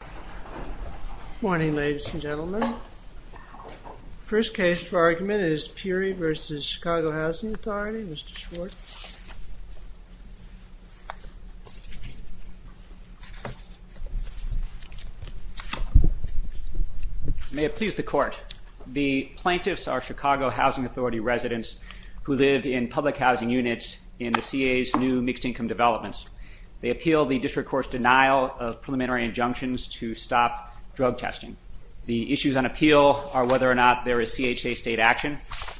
Good morning ladies and gentlemen. First case for argument is Peery v. Chicago Housing Authority. Mr. Schwartz. May it please the court. The plaintiffs are Chicago Housing Authority residents who live in public housing units in the CA's new mixed-income developments. They seek to stop drug testing. The issues on appeal are whether or not there is CHA state action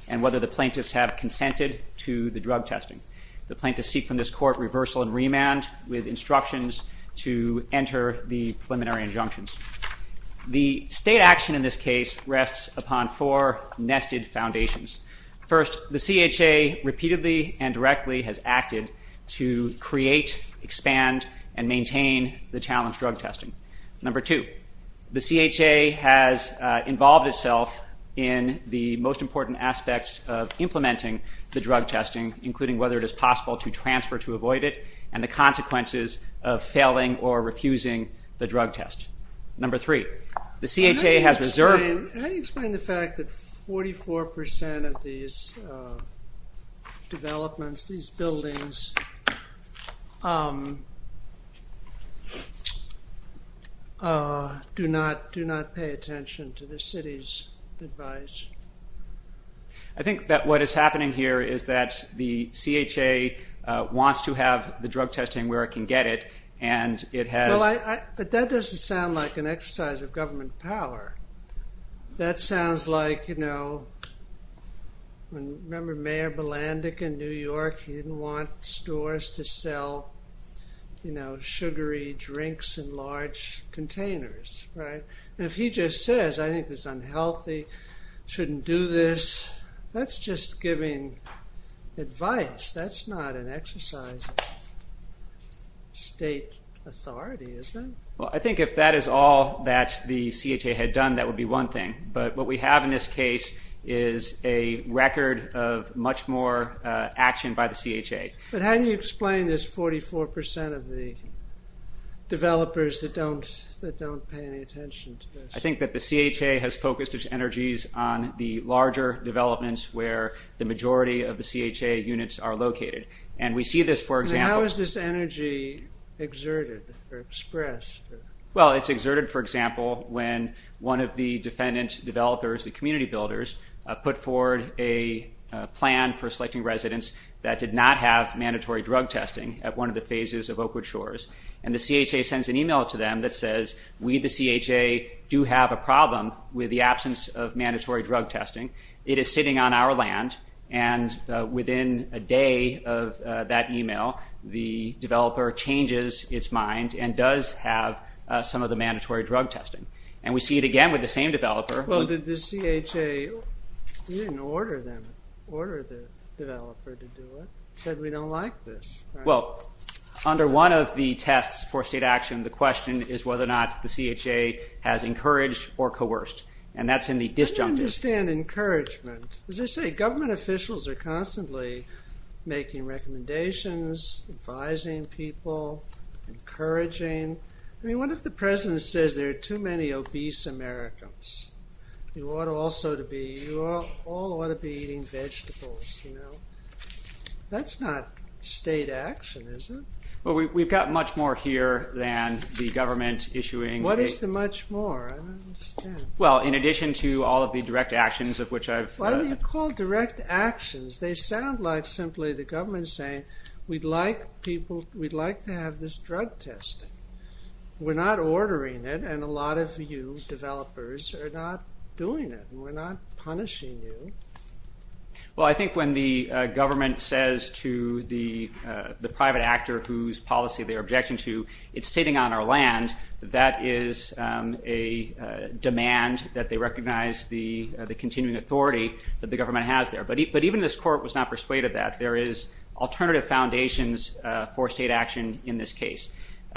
and whether the plaintiffs have consented to the drug testing. The plaintiffs seek from this court reversal and remand with instructions to enter the preliminary injunctions. The state action in this case rests upon four nested foundations. First, the CHA repeatedly and directly has acted to prevent drug testing. Number two, the CHA has involved itself in the most important aspects of implementing the drug testing including whether it is possible to transfer to avoid it and the consequences of failing or refusing the drug test. Number three, the CHA has reserved... Do not pay attention to the city's advice. I think that what is happening here is that the CHA wants to have the drug testing where it can get it and it has... But that doesn't sound like an exercise of government power. That sounds like, you know, remember Mayor Balandic in New York. He didn't want stores to sell, you know, sugary drinks in large containers, right? If he just says, I think it's unhealthy, shouldn't do this, that's just giving advice. That's not an exercise of state authority, is it? Well, I think if that is all that the CHA had done, that would be one thing. But what we have in this case is a record of much more action by the CHA. But how do you explain this 44% of the developers that don't pay any attention to this? I think that the CHA has focused its energies on the larger developments where the majority of the CHA units are located. And we see this, for example... And how is this energy exerted or expressed? Well, it's exerted, for example, when one of the defendant developers, the community residents, that did not have mandatory drug testing at one of the phases of Oakwood Shores. And the CHA sends an email to them that says, we, the CHA, do have a problem with the absence of mandatory drug testing. It is sitting on our land. And within a day of that email, the developer changes its mind and does have some of the mandatory drug testing. And we see it again with the same developer... But did the CHA... You didn't order them, order the developer to do it. You said we don't like this. Well, under one of the tests for state action, the question is whether or not the CHA has encouraged or coerced. And that's in the disjunctive... I don't understand encouragement. As I say, government officials are constantly making recommendations, advising people, encouraging. I mean, what if the president says there are too many obese Americans? You ought also to be... You all ought to be eating vegetables. That's not state action, is it? Well, we've got much more here than the government issuing... What is the much more? I don't understand. Well, in addition to all of the direct actions of which I've... Why do you call direct actions? They sound like simply the government saying, we'd like to have this drug testing. We're not ordering it, and a lot of you developers are not doing it. We're not punishing you. Well, I think when the government says to the private actor whose policy they're objecting to, it's sitting on our land, that is a demand that they recognize the continuing authority that the government has there. But even this court was not persuaded that. There is alternative foundations for state action in this case.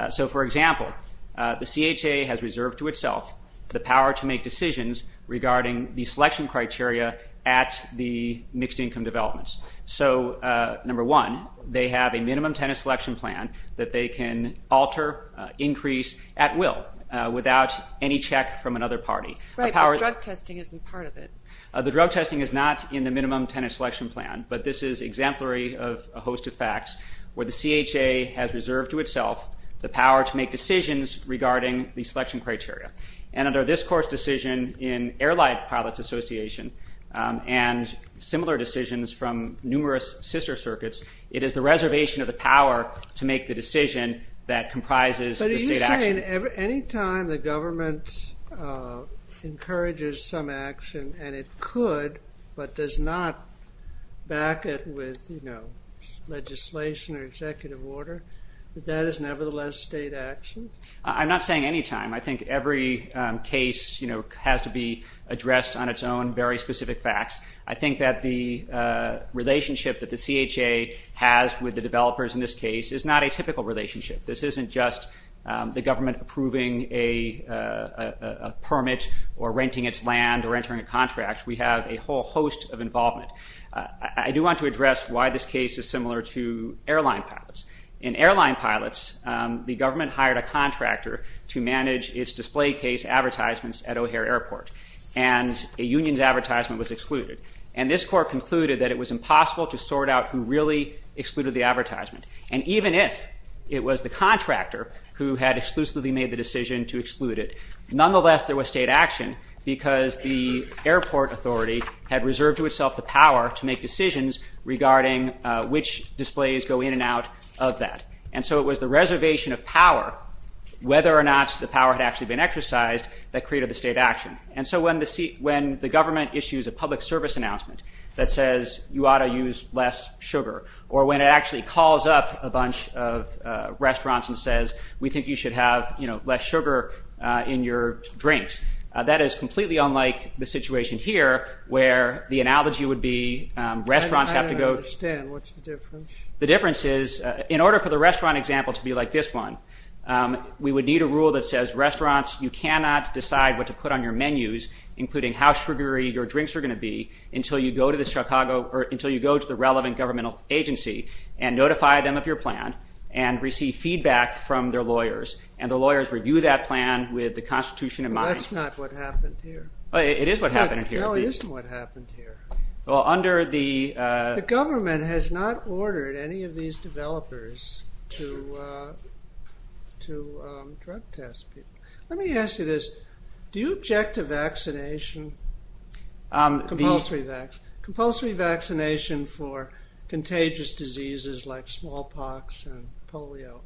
So, for example, the CHA has reserved to itself the power to make decisions regarding the selection criteria at the mixed income developments. So, number one, they have a minimum tenant selection plan that they can alter, increase at will without any check from another party. Right, but drug testing isn't part of it. The drug testing is not in the minimum tenant selection plan, but this is exemplary of a where the CHA has reserved to itself the power to make decisions regarding the selection criteria. And under this court's decision in Airlight Pilots Association, and similar decisions from numerous sister circuits, it is the reservation of the power to make the decision that comprises the state action. But are you saying any time the government encourages some action, and it could, but does not back it with, you know, legislation or executive order, that that is nevertheless state action? I'm not saying any time. I think every case, you know, has to be addressed on its own, very specific facts. I think that the relationship that the CHA has with the developers in this case is not a typical relationship. This isn't just the government approving a permit or executive involvement. I do want to address why this case is similar to Airline Pilots. In Airline Pilots, the government hired a contractor to manage its display case advertisements at O'Hare Airport, and a union's advertisement was excluded. And this court concluded that it was impossible to sort out who really excluded the advertisement. And even if it was the contractor who had exclusively made the decision to exclude it, nonetheless there was state action, because the airport authority had reserved to itself the power to make decisions regarding which displays go in and out of that. And so it was the reservation of power, whether or not the power had actually been exercised, that created the state action. And so when the government issues a public service announcement that says, you ought to use less sugar, or when it actually calls up a bunch of restaurants and says, we think you should have less sugar in your drinks, that is completely unlike the situation here, where the analogy would be restaurants have to go... I don't understand. What's the difference? The difference is, in order for the restaurant example to be like this one, we would need a rule that says, restaurants, you cannot decide what to put on your menus, including how sugary your drinks are going to be, until you go to the relevant governmental agency and notify them of your plan, and receive feedback from their lawyers, and the lawyers review that plan with the constitution in mind. That's not what happened here. It is what happened here. No, it isn't what happened here. Well, under the... The government has not ordered any of these developers to drug test people. Let me ask you this, do you object to vaccination, compulsory vaccination for contagious diseases like smallpox and polio?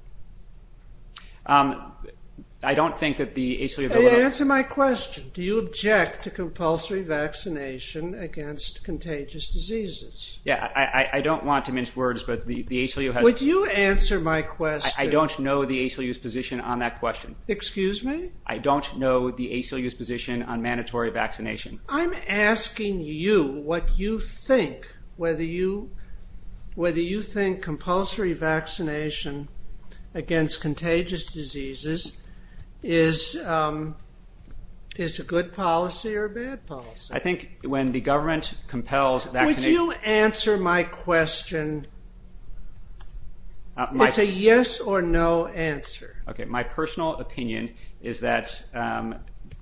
I don't think that the ACLU... Answer my question. Do you object to compulsory vaccination against contagious diseases? Yeah, I don't want to mince words, but the ACLU has... Would you answer my question? I don't know the ACLU's position on that question. Excuse me? I don't know the ACLU's position on mandatory vaccination. I'm asking you what you think, whether you think compulsory vaccination against contagious diseases is a good policy or a bad policy. I think when the government compels vaccination... Would you answer my question? It's a yes or no answer. My personal opinion is that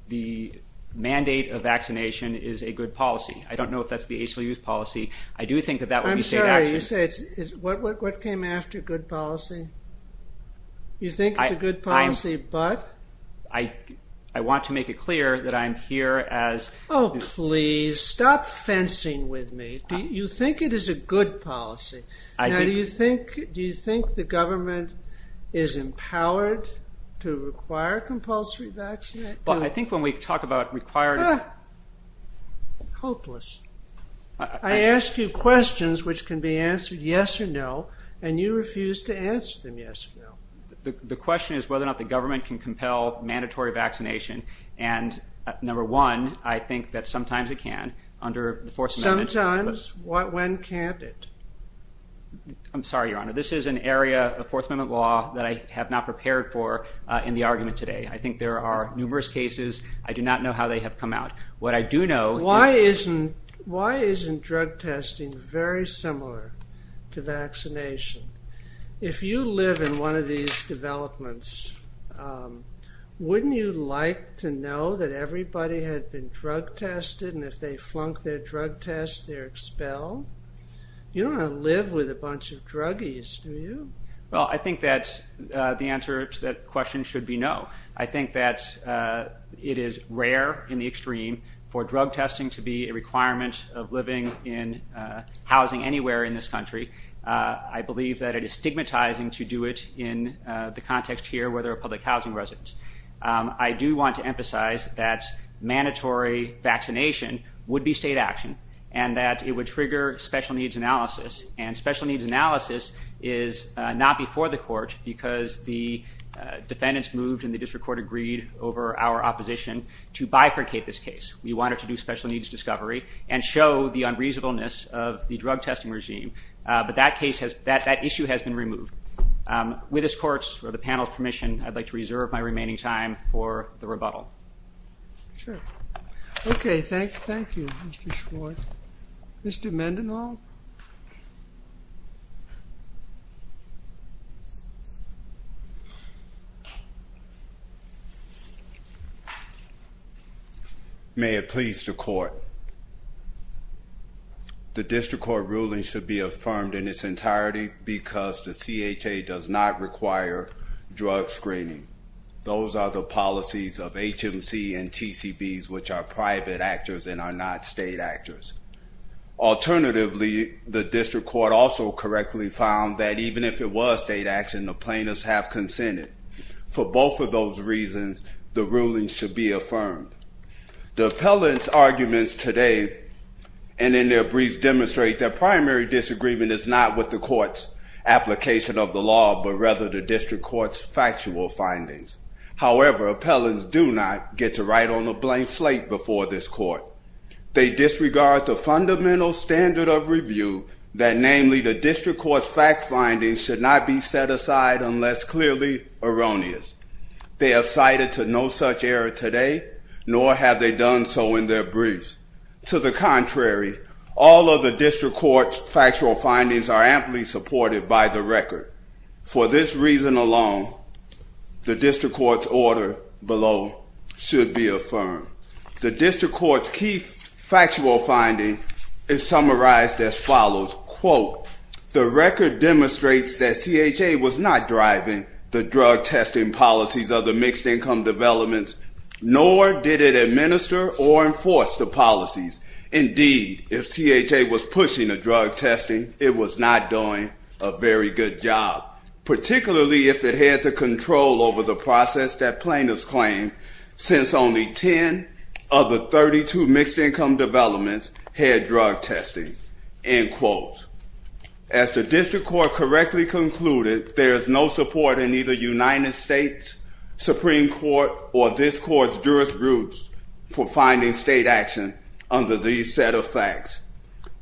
the mandate of vaccination is a good policy. I don't know if that's the ACLU's policy. I do think that that would be safe action. I'm sorry, you say it's... What came after good policy? You think it's a good policy, but? I want to make it clear that I'm here as... Oh, please, stop fencing with me. You think it is a good policy. Do you think the government is empowered to require compulsory vaccination? I think when we talk about required... Hopeless. I ask you questions which can be answered yes or no, and you refuse to answer them yes or no. The question is whether or not the government can compel mandatory vaccination. And number one, I think that sometimes it can, under the Fourth Amendment. Sometimes? When can't it? I'm sorry, Your Honor. This is an area of Fourth Amendment law that I have not prepared for in the argument today. I think there are numerous cases. I do not know how they have come out. What I do know... Why isn't drug testing very similar to vaccination? If you live in one of these developments, wouldn't you like to know that everybody had been drug tested, and if they flunk their drug test, they're expelled? You don't want to live with a bunch of druggies, do you? Well, I think that the answer to that question should be no. I think that it is rare in the extreme for drug testing to be a requirement of living in housing anywhere in this country. I believe that it is stigmatizing to do it in the context here where there are public housing residents. I do want to emphasize that mandatory vaccination would be state action, and that it would trigger special needs analysis. And special needs analysis is not before the court because the defendants moved, and the district court agreed over our opposition to bifurcate this case. We wanted to do special needs discovery and show the unreasonableness of the drug testing regime. But that issue has been removed. With this court's or the panel's permission, I'd like to reserve my remaining time for the rebuttal. Sure. Okay, thank you, Mr. Schwartz. Mr. Mendenhall? May it please the court. The district court ruling should be affirmed in its entirety because the CHA does not require drug screening. Those are the policies of HMC and TCBs, which are private actors and are not state actors. Alternatively, the district court also correctly found that even if it was state action, the plaintiffs have consented. For both of those reasons, the ruling should be affirmed. The appellant's arguments today and in their brief demonstrate that primary disagreement is not with the court's application of the law, but rather the district court's factual findings. However, appellants do not get to write on a blank slate before this court. They disregard the fundamental standard of review that, namely, the district court's fact findings should not be set aside unless clearly erroneous. They have cited to no such error today, nor have they done so in their briefs. To the contrary, all of the district court's factual findings are amply supported by the record. For this reason alone, the district court's order below should be affirmed. The district court's key factual finding is summarized as follows. The record demonstrates that CHA was not driving the drug testing policies of the mixed income developments, nor did it administer or enforce the policies. Indeed, if CHA was pushing the drug testing, it was not doing a very good job, particularly if it had the control over the process that plaintiffs claim, since only 10 of the 32 mixed income developments had drug testing. As the district court correctly concluded, there is no support in either United States Supreme Court or this court's jurisprudence for finding state action under these set of facts.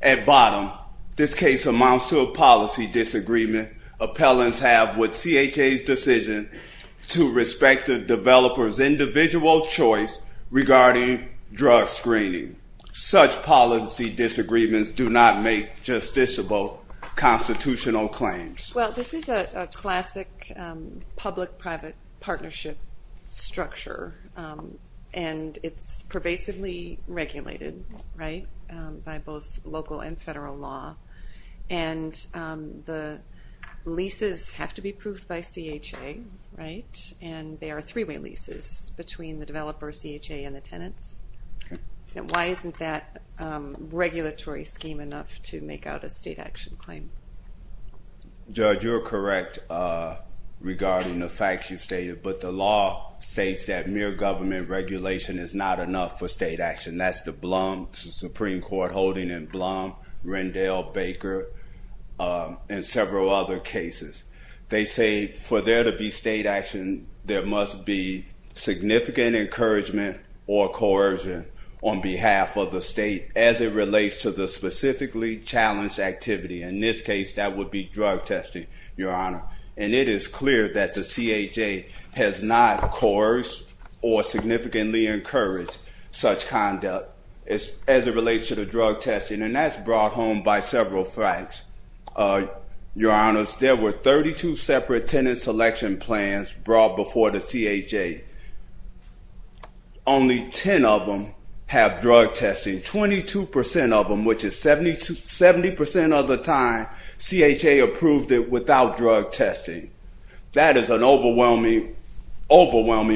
At bottom, this case amounts to a policy disagreement appellants have with CHA's decision to respect the developer's individual choice regarding drug screening. Such policy disagreements do not make justiciable constitutional claims. Well, this is a classic public-private partnership structure, and it's pervasively regulated by both local and federal law, and the leases have to be approved by CHA, and they are three-way leases between the developer, CHA, and the tenants. Why isn't that regulatory scheme enough to make out a state action claim? Judge, you're correct regarding the facts you've stated, but the law states that mere government regulation is not enough for state action. That's the Blum Supreme Court holding in Blum, Rendell, Baker, and several other cases. They say for there to be state action, there must be significant encouragement or coercion on behalf of the state as it relates to the specifically challenged activity. In this case, that would be drug testing, Your Honor. And it is clear that the CHA has not coerced or significantly encouraged such conduct as it relates to the drug testing, and that's brought home by several facts. Your Honors, there were 32 separate tenant selection plans brought before the CHA. Only 10 of them have drug testing. 22 percent of them, which is 70 percent of the time, CHA approved it without drug testing. That is an overwhelming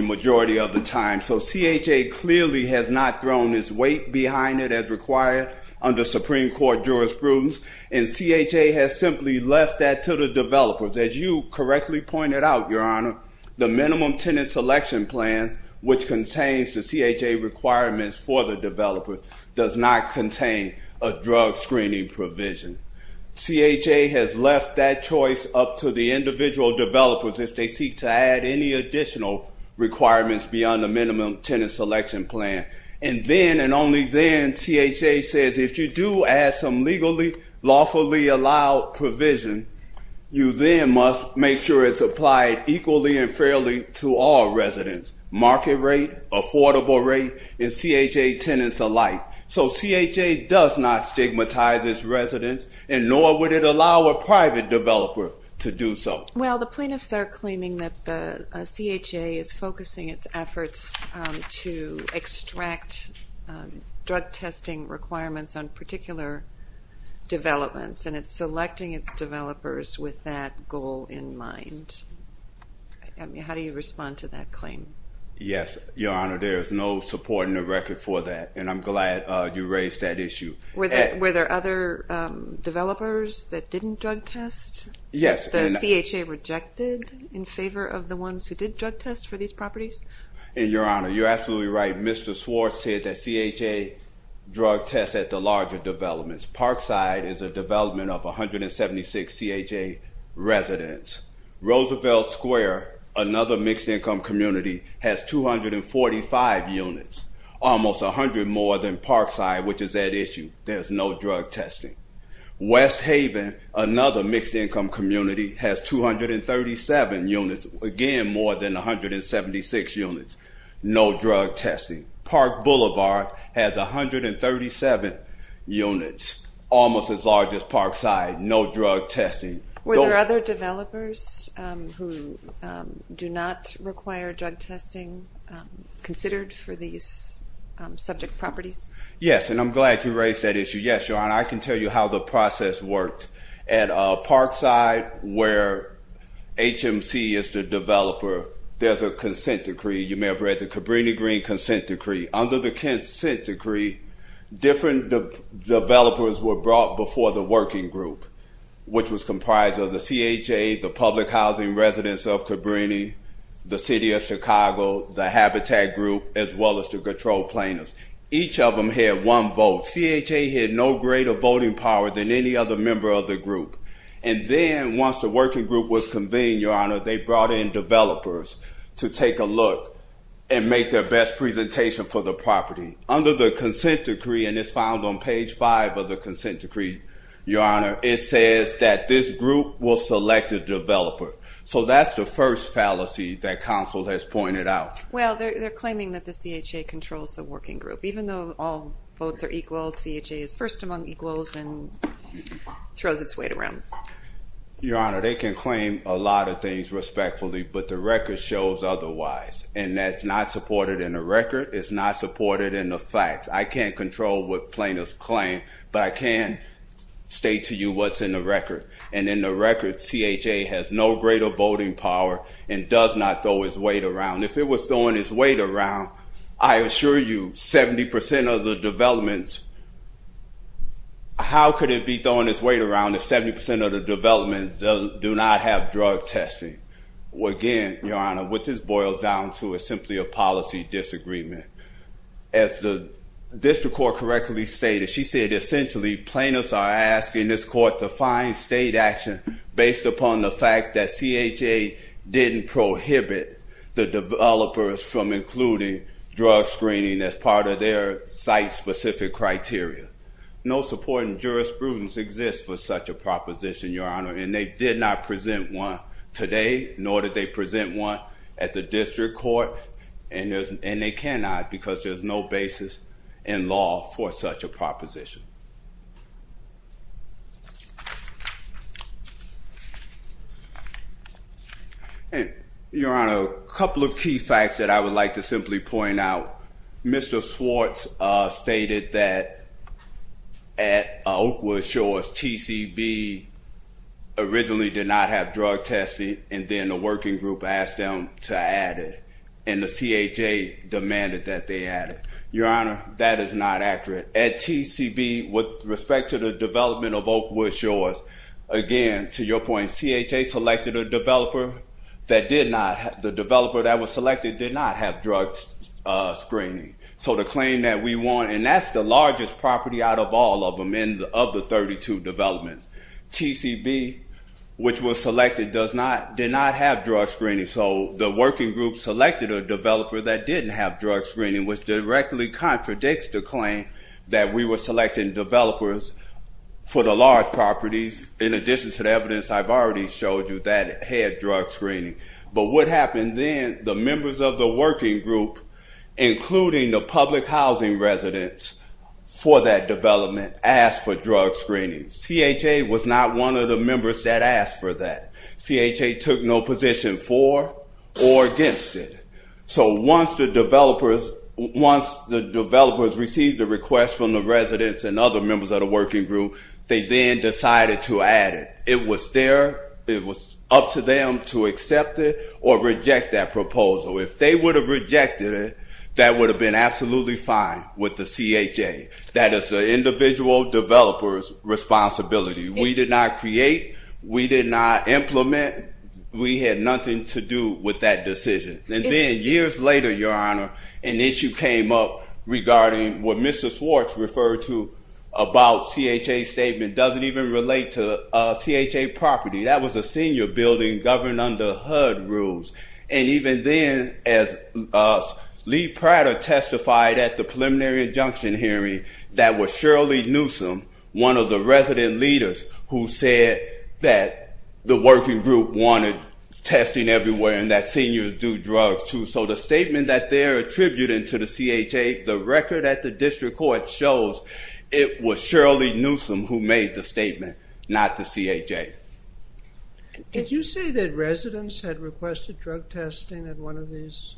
majority of the time, so CHA clearly has not thrown its weight behind it as required under Supreme Court jurisprudence, and CHA has simply left that to the developers. As you correctly pointed out, Your Honor, the minimum tenant selection plan, which contains the CHA requirements for the developers, does not contain a drug screening provision. CHA has left that choice up to the individual developers if they seek to add any additional requirements beyond the minimum tenant selection plan. And then, and only then, CHA says if you do add some legally, lawfully allowed provision, you then must make sure it's applied equally and fairly to all residents, market rate, affordable rate, and CHA tenants alike. So CHA does not stigmatize its residents, and nor would it allow a private developer to do so. Well, the plaintiffs are claiming that the CHA is focusing its efforts to extract drug testing requirements on particular developments, and it's selecting its developers with that goal in mind. How do you respond to that claim? Yes, Your Honor, there is no support in the record for that, and I'm glad you raised that issue. Were there other developers that didn't drug test? Yes. Was the CHA rejected in favor of the ones who did drug test for these properties? Your Honor, you're absolutely right. Mr. Swartz said that CHA drug tests at the larger developments. Parkside is a development of 176 CHA residents. Roosevelt Square, another mixed-income community, has 245 units, almost 100 more than Parkside, which is at issue. There's no drug testing. West Haven, another mixed-income community, has 237 units, again more than 176 units. No drug testing. Park Boulevard has 137 units, almost as large as Parkside. No drug testing. Were there other developers who do not require drug testing considered for these subject properties? Yes, and I'm glad you raised that issue. Yes, Your Honor, I can tell you how the process worked. At Parkside, where HMC is the developer, there's a consent decree. You may have read the Cabrini-Green Consent Decree. Under the consent decree, different developers were brought before the working group, which was comprised of the CHA, the public housing residents of Cabrini, the City of Chicago, the Habitat group, as well as the control planners. Each of them had one vote. CHA had no greater voting power than any other member of the group. And then once the working group was convened, Your Honor, they brought in developers to take a look and make their best presentation for the property. Under the consent decree, and it's found on page 5 of the consent decree, Your Honor, it says that this group will select a developer. So that's the first fallacy that counsel has pointed out. Well, they're claiming that the CHA controls the working group. Even though all votes are equal, CHA is first among equals and throws its weight around. Your Honor, they can claim a lot of things respectfully, but the record shows otherwise. And that's not supported in the record. It's not supported in the facts. I can't control what plaintiffs claim, but I can state to you what's in the record. And in the record, CHA has no greater voting power and does not throw its weight around. If it was throwing its weight around, I assure you 70% of the developments, how could it be throwing its weight around if 70% of the developments do not have drug testing? Again, Your Honor, what this boils down to is simply a policy disagreement. As the district court correctly stated, she said, essentially, plaintiffs are asking this court to find state action based upon the fact that including drug screening as part of their site-specific criteria. No supporting jurisprudence exists for such a proposition, Your Honor, and they did not present one today, nor did they present one at the district court, and they cannot because there's no basis in law for such a proposition. Your Honor, a couple of key facts that I would like to simply point out. Mr. Swartz stated that at Oakwood Shores, TCB originally did not have drug testing, and then the working group asked them to add it, and the CHA demanded that they add it. Your Honor, that is not accurate. At TCB, with respect to the development of Oakwood Shores, again, to your point, CHA selected a developer that did not, the developer that was selected did not have drug screening. So the claim that we want, and that's the largest property out of all of them, of the 32 developments. TCB, which was selected, did not have drug screening, so the working group selected a developer that didn't have drug screening, which directly contradicts the claim that we were selecting developers for the large properties, in addition to the evidence I've already showed you that had drug screening. But what happened then, the members of the working group, including the public housing residents, for that development asked for drug screening. CHA was not one of the members that asked for that. CHA took no position for or against it. So once the developers received the request from the residents and other members of the working group, they then decided to add it. It was up to them to accept it or reject that proposal. If they would have rejected it, that would have been absolutely fine with the CHA. That is the individual developer's responsibility. We did not create. We did not implement. We had nothing to do with that decision. And then years later, Your Honor, an issue came up regarding what Mr. Swartz referred to about CHA's statement doesn't even relate to CHA property. That was a senior building governed under HUD rules. And even then, as Lee Prater testified at the preliminary injunction hearing, that was Shirley Newsome, one of the resident leaders, who said that the working group wanted testing everywhere and that seniors do drugs, too. So the statement that they're attributing to the CHA, the record at the district court shows it was Shirley Newsome who made the statement, not the CHA. Did you say that residents had requested drug testing at one of these?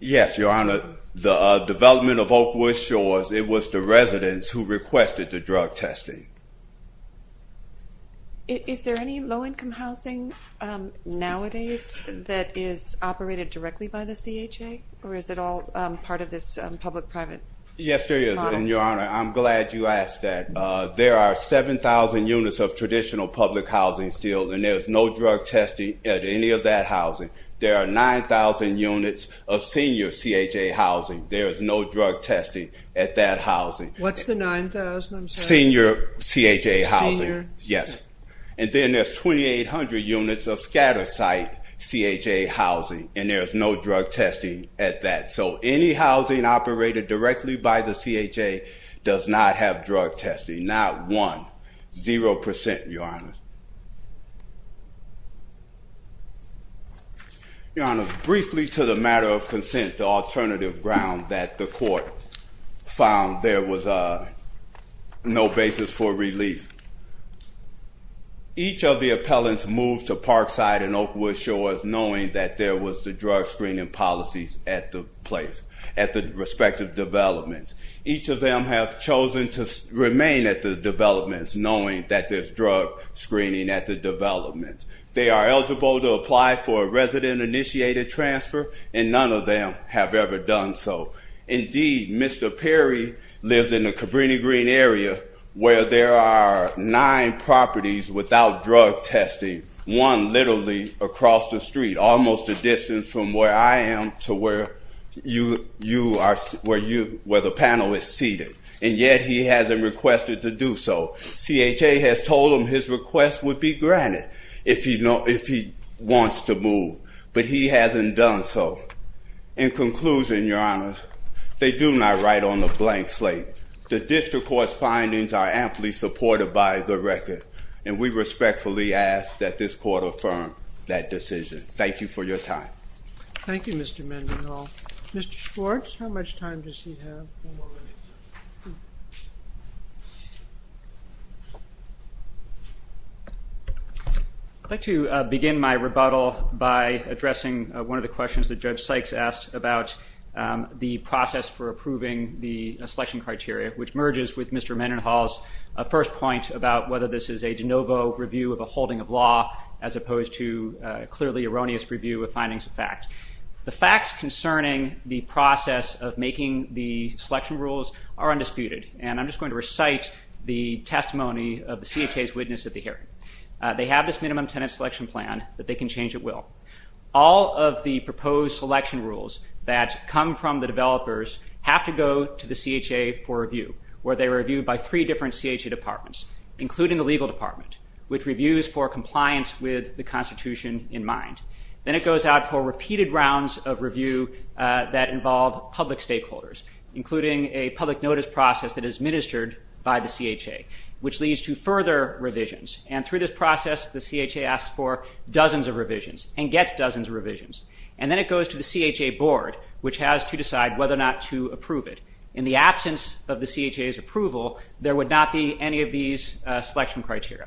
Yes, Your Honor. The development of Oakwood Shores, it was the residents who requested the drug testing. Is there any low-income housing nowadays that is operated directly by the CHA? Or is it all part of this public-private model? Yes, there is. And, Your Honor, I'm glad you asked that. There are 7,000 units of traditional public housing still, and there's no drug testing at any of that housing. There are 9,000 units of senior CHA housing. There is no drug testing at that housing. What's the 9,000? I'm sorry. Senior CHA housing. Senior? Yes. And then there's 2,800 units of scatter site CHA housing, and there's no drug testing at that. So any housing operated directly by the CHA does not have drug testing. Not one. Zero percent, Your Honor. Your Honor, briefly to the matter of consent, the alternative ground that the court found there was no basis for relief. Each of the appellants moved to Parkside and Oakwood Shores knowing that there was the drug screening policies at the place, at the respective developments. Each of them have chosen to remain at the developments knowing that there's drug screening at the developments. They are eligible to apply for a resident-initiated transfer, and none of them have ever done so. Indeed, Mr. Perry lives in the Cabrini-Green area where there are nine properties without drug testing, one literally across the street, almost a distance from where I am to where the panel is seated, and yet he hasn't requested to do so. CHA has told him his request would be granted if he wants to move, but he hasn't done so. In conclusion, Your Honor, they do not write on the blank slate. The district court's findings are amply supported by the record, and we respectfully ask that this court affirm that decision. Thank you for your time. Thank you, Mr. Mendenhall. Mr. Schwartz, how much time does he have? Four minutes. I'd like to begin my rebuttal by addressing one of the questions that Judge Sykes asked about the process for approving the selection criteria, which merges with Mr. Mendenhall's first point about whether this is a de novo review of a holding of law as opposed to a clearly erroneous review of findings of fact. The facts concerning the process of making the selection rules are undisputed, and I'm just going to recite the testimony of the CHA's witness at the hearing. They have this minimum tenant selection plan that they can change at will. All of the proposed selection rules that come from the developers have to go to the CHA for review, where they are reviewed by three different CHA departments, including the legal department, which reviews for compliance with the Constitution in mind. Then it goes out for repeated rounds of review that involve public stakeholders, including a public notice process that is administered by the CHA, which leads to further revisions. And through this process, the CHA asks for dozens of revisions and gets dozens of revisions. And then it goes to the CHA board, which has to decide whether or not to approve it. In the absence of the CHA's approval, there would not be any of these selection criteria,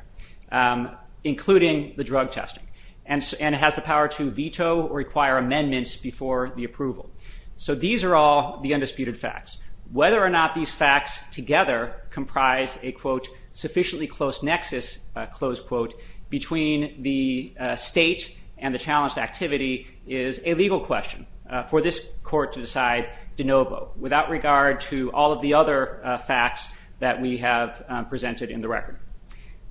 including the drug testing. And it has the power to veto or require amendments before the approval. So these are all the undisputed facts. Whether or not these facts together comprise a, quote, sufficiently close nexus, close quote, between the state and the challenged activity is a legal question for this court to decide de novo, without regard to all of the other facts that we have presented in the record.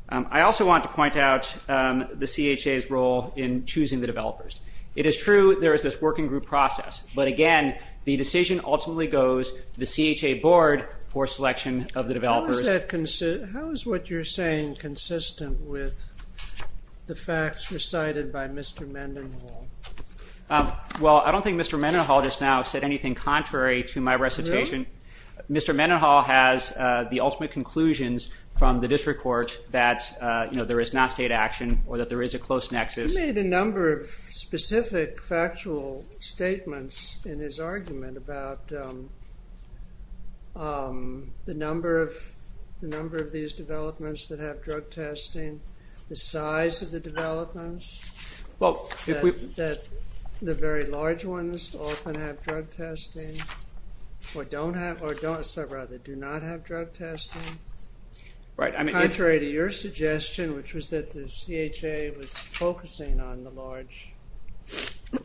I also want to point out the CHA's role in choosing the developers. It is true there is this working group process. But again, the decision ultimately goes to the CHA board for selection of the developers. How is what you're saying consistent with the facts recited by Mr. Mendenhall? Well, I don't think Mr. Mendenhall just now said anything contrary to my recitation. Mr. Mendenhall has the ultimate conclusions from the district court that there is non-state action or that there is a close nexus. He made a number of specific factual statements in his argument about the number of these developments that have drug testing, the size of the developments, that the very large ones often have drug testing or do not have drug testing, contrary to your suggestion, which was that the CHA was focusing on the large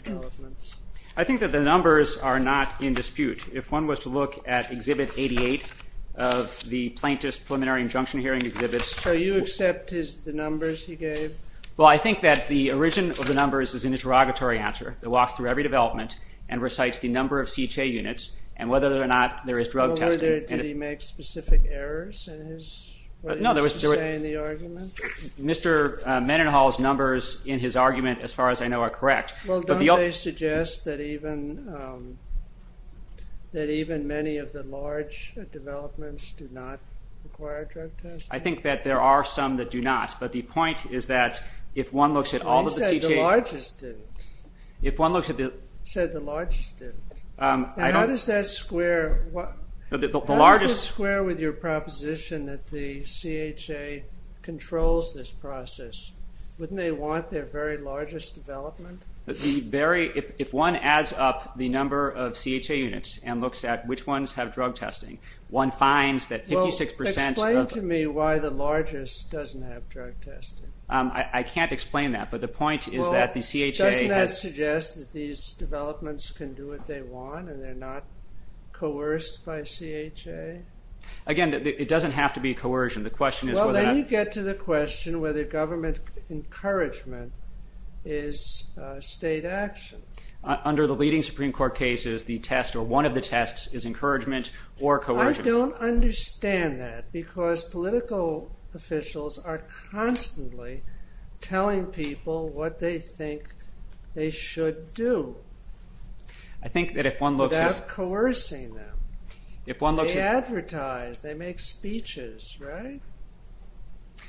developments. I think that the numbers are not in dispute. If one was to look at Exhibit 88 of the Plaintiff's Preliminary Injunction Hearing Exhibits. So you accept the numbers he gave? Well, I think that the origin of the numbers is an interrogatory answer that walks through every development and recites the number of CHA units and whether or not there is drug testing. Did he make specific errors in what he was saying in the argument? Mr. Mendenhall's numbers in his argument, as far as I know, are correct. Well, don't they suggest that even many of the large developments do not require drug testing? I think that there are some that do not, but the point is that if one looks at all of the CHA... He said the largest do. How does that square with your proposition that the CHA controls this process? Wouldn't they want their very largest development? If one adds up the number of CHA units and looks at which ones have drug testing, one finds that 56%... Explain to me why the largest doesn't have drug testing. I can't explain that, but the point is that the CHA... Do they suggest that these developments can do what they want and they're not coerced by CHA? Again, it doesn't have to be coercion. Well, then you get to the question whether government encouragement is state action. Under the leading Supreme Court cases, one of the tests is encouragement or coercion. I don't understand that because political officials are constantly telling people what they think they should do. I think that if one looks at... Without coercing them. If one looks at... They advertise, they make speeches, right?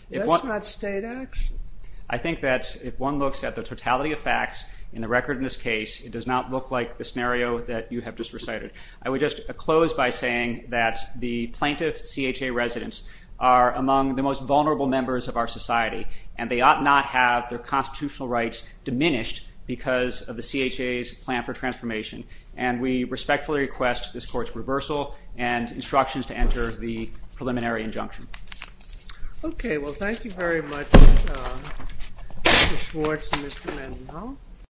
That's not state action. I think that if one looks at the totality of facts in the record in this case, it does not look like the scenario that you have just recited. I would just close by saying that the plaintiff CHA residents are among the most vulnerable members of our society and they ought not have their constitutional rights diminished because of the CHA's plan for transformation. And we respectfully request this court's reversal and instructions to enter the preliminary injunction. Okay, well, thank you very much, Mr. Schwartz and Mr. Manzino.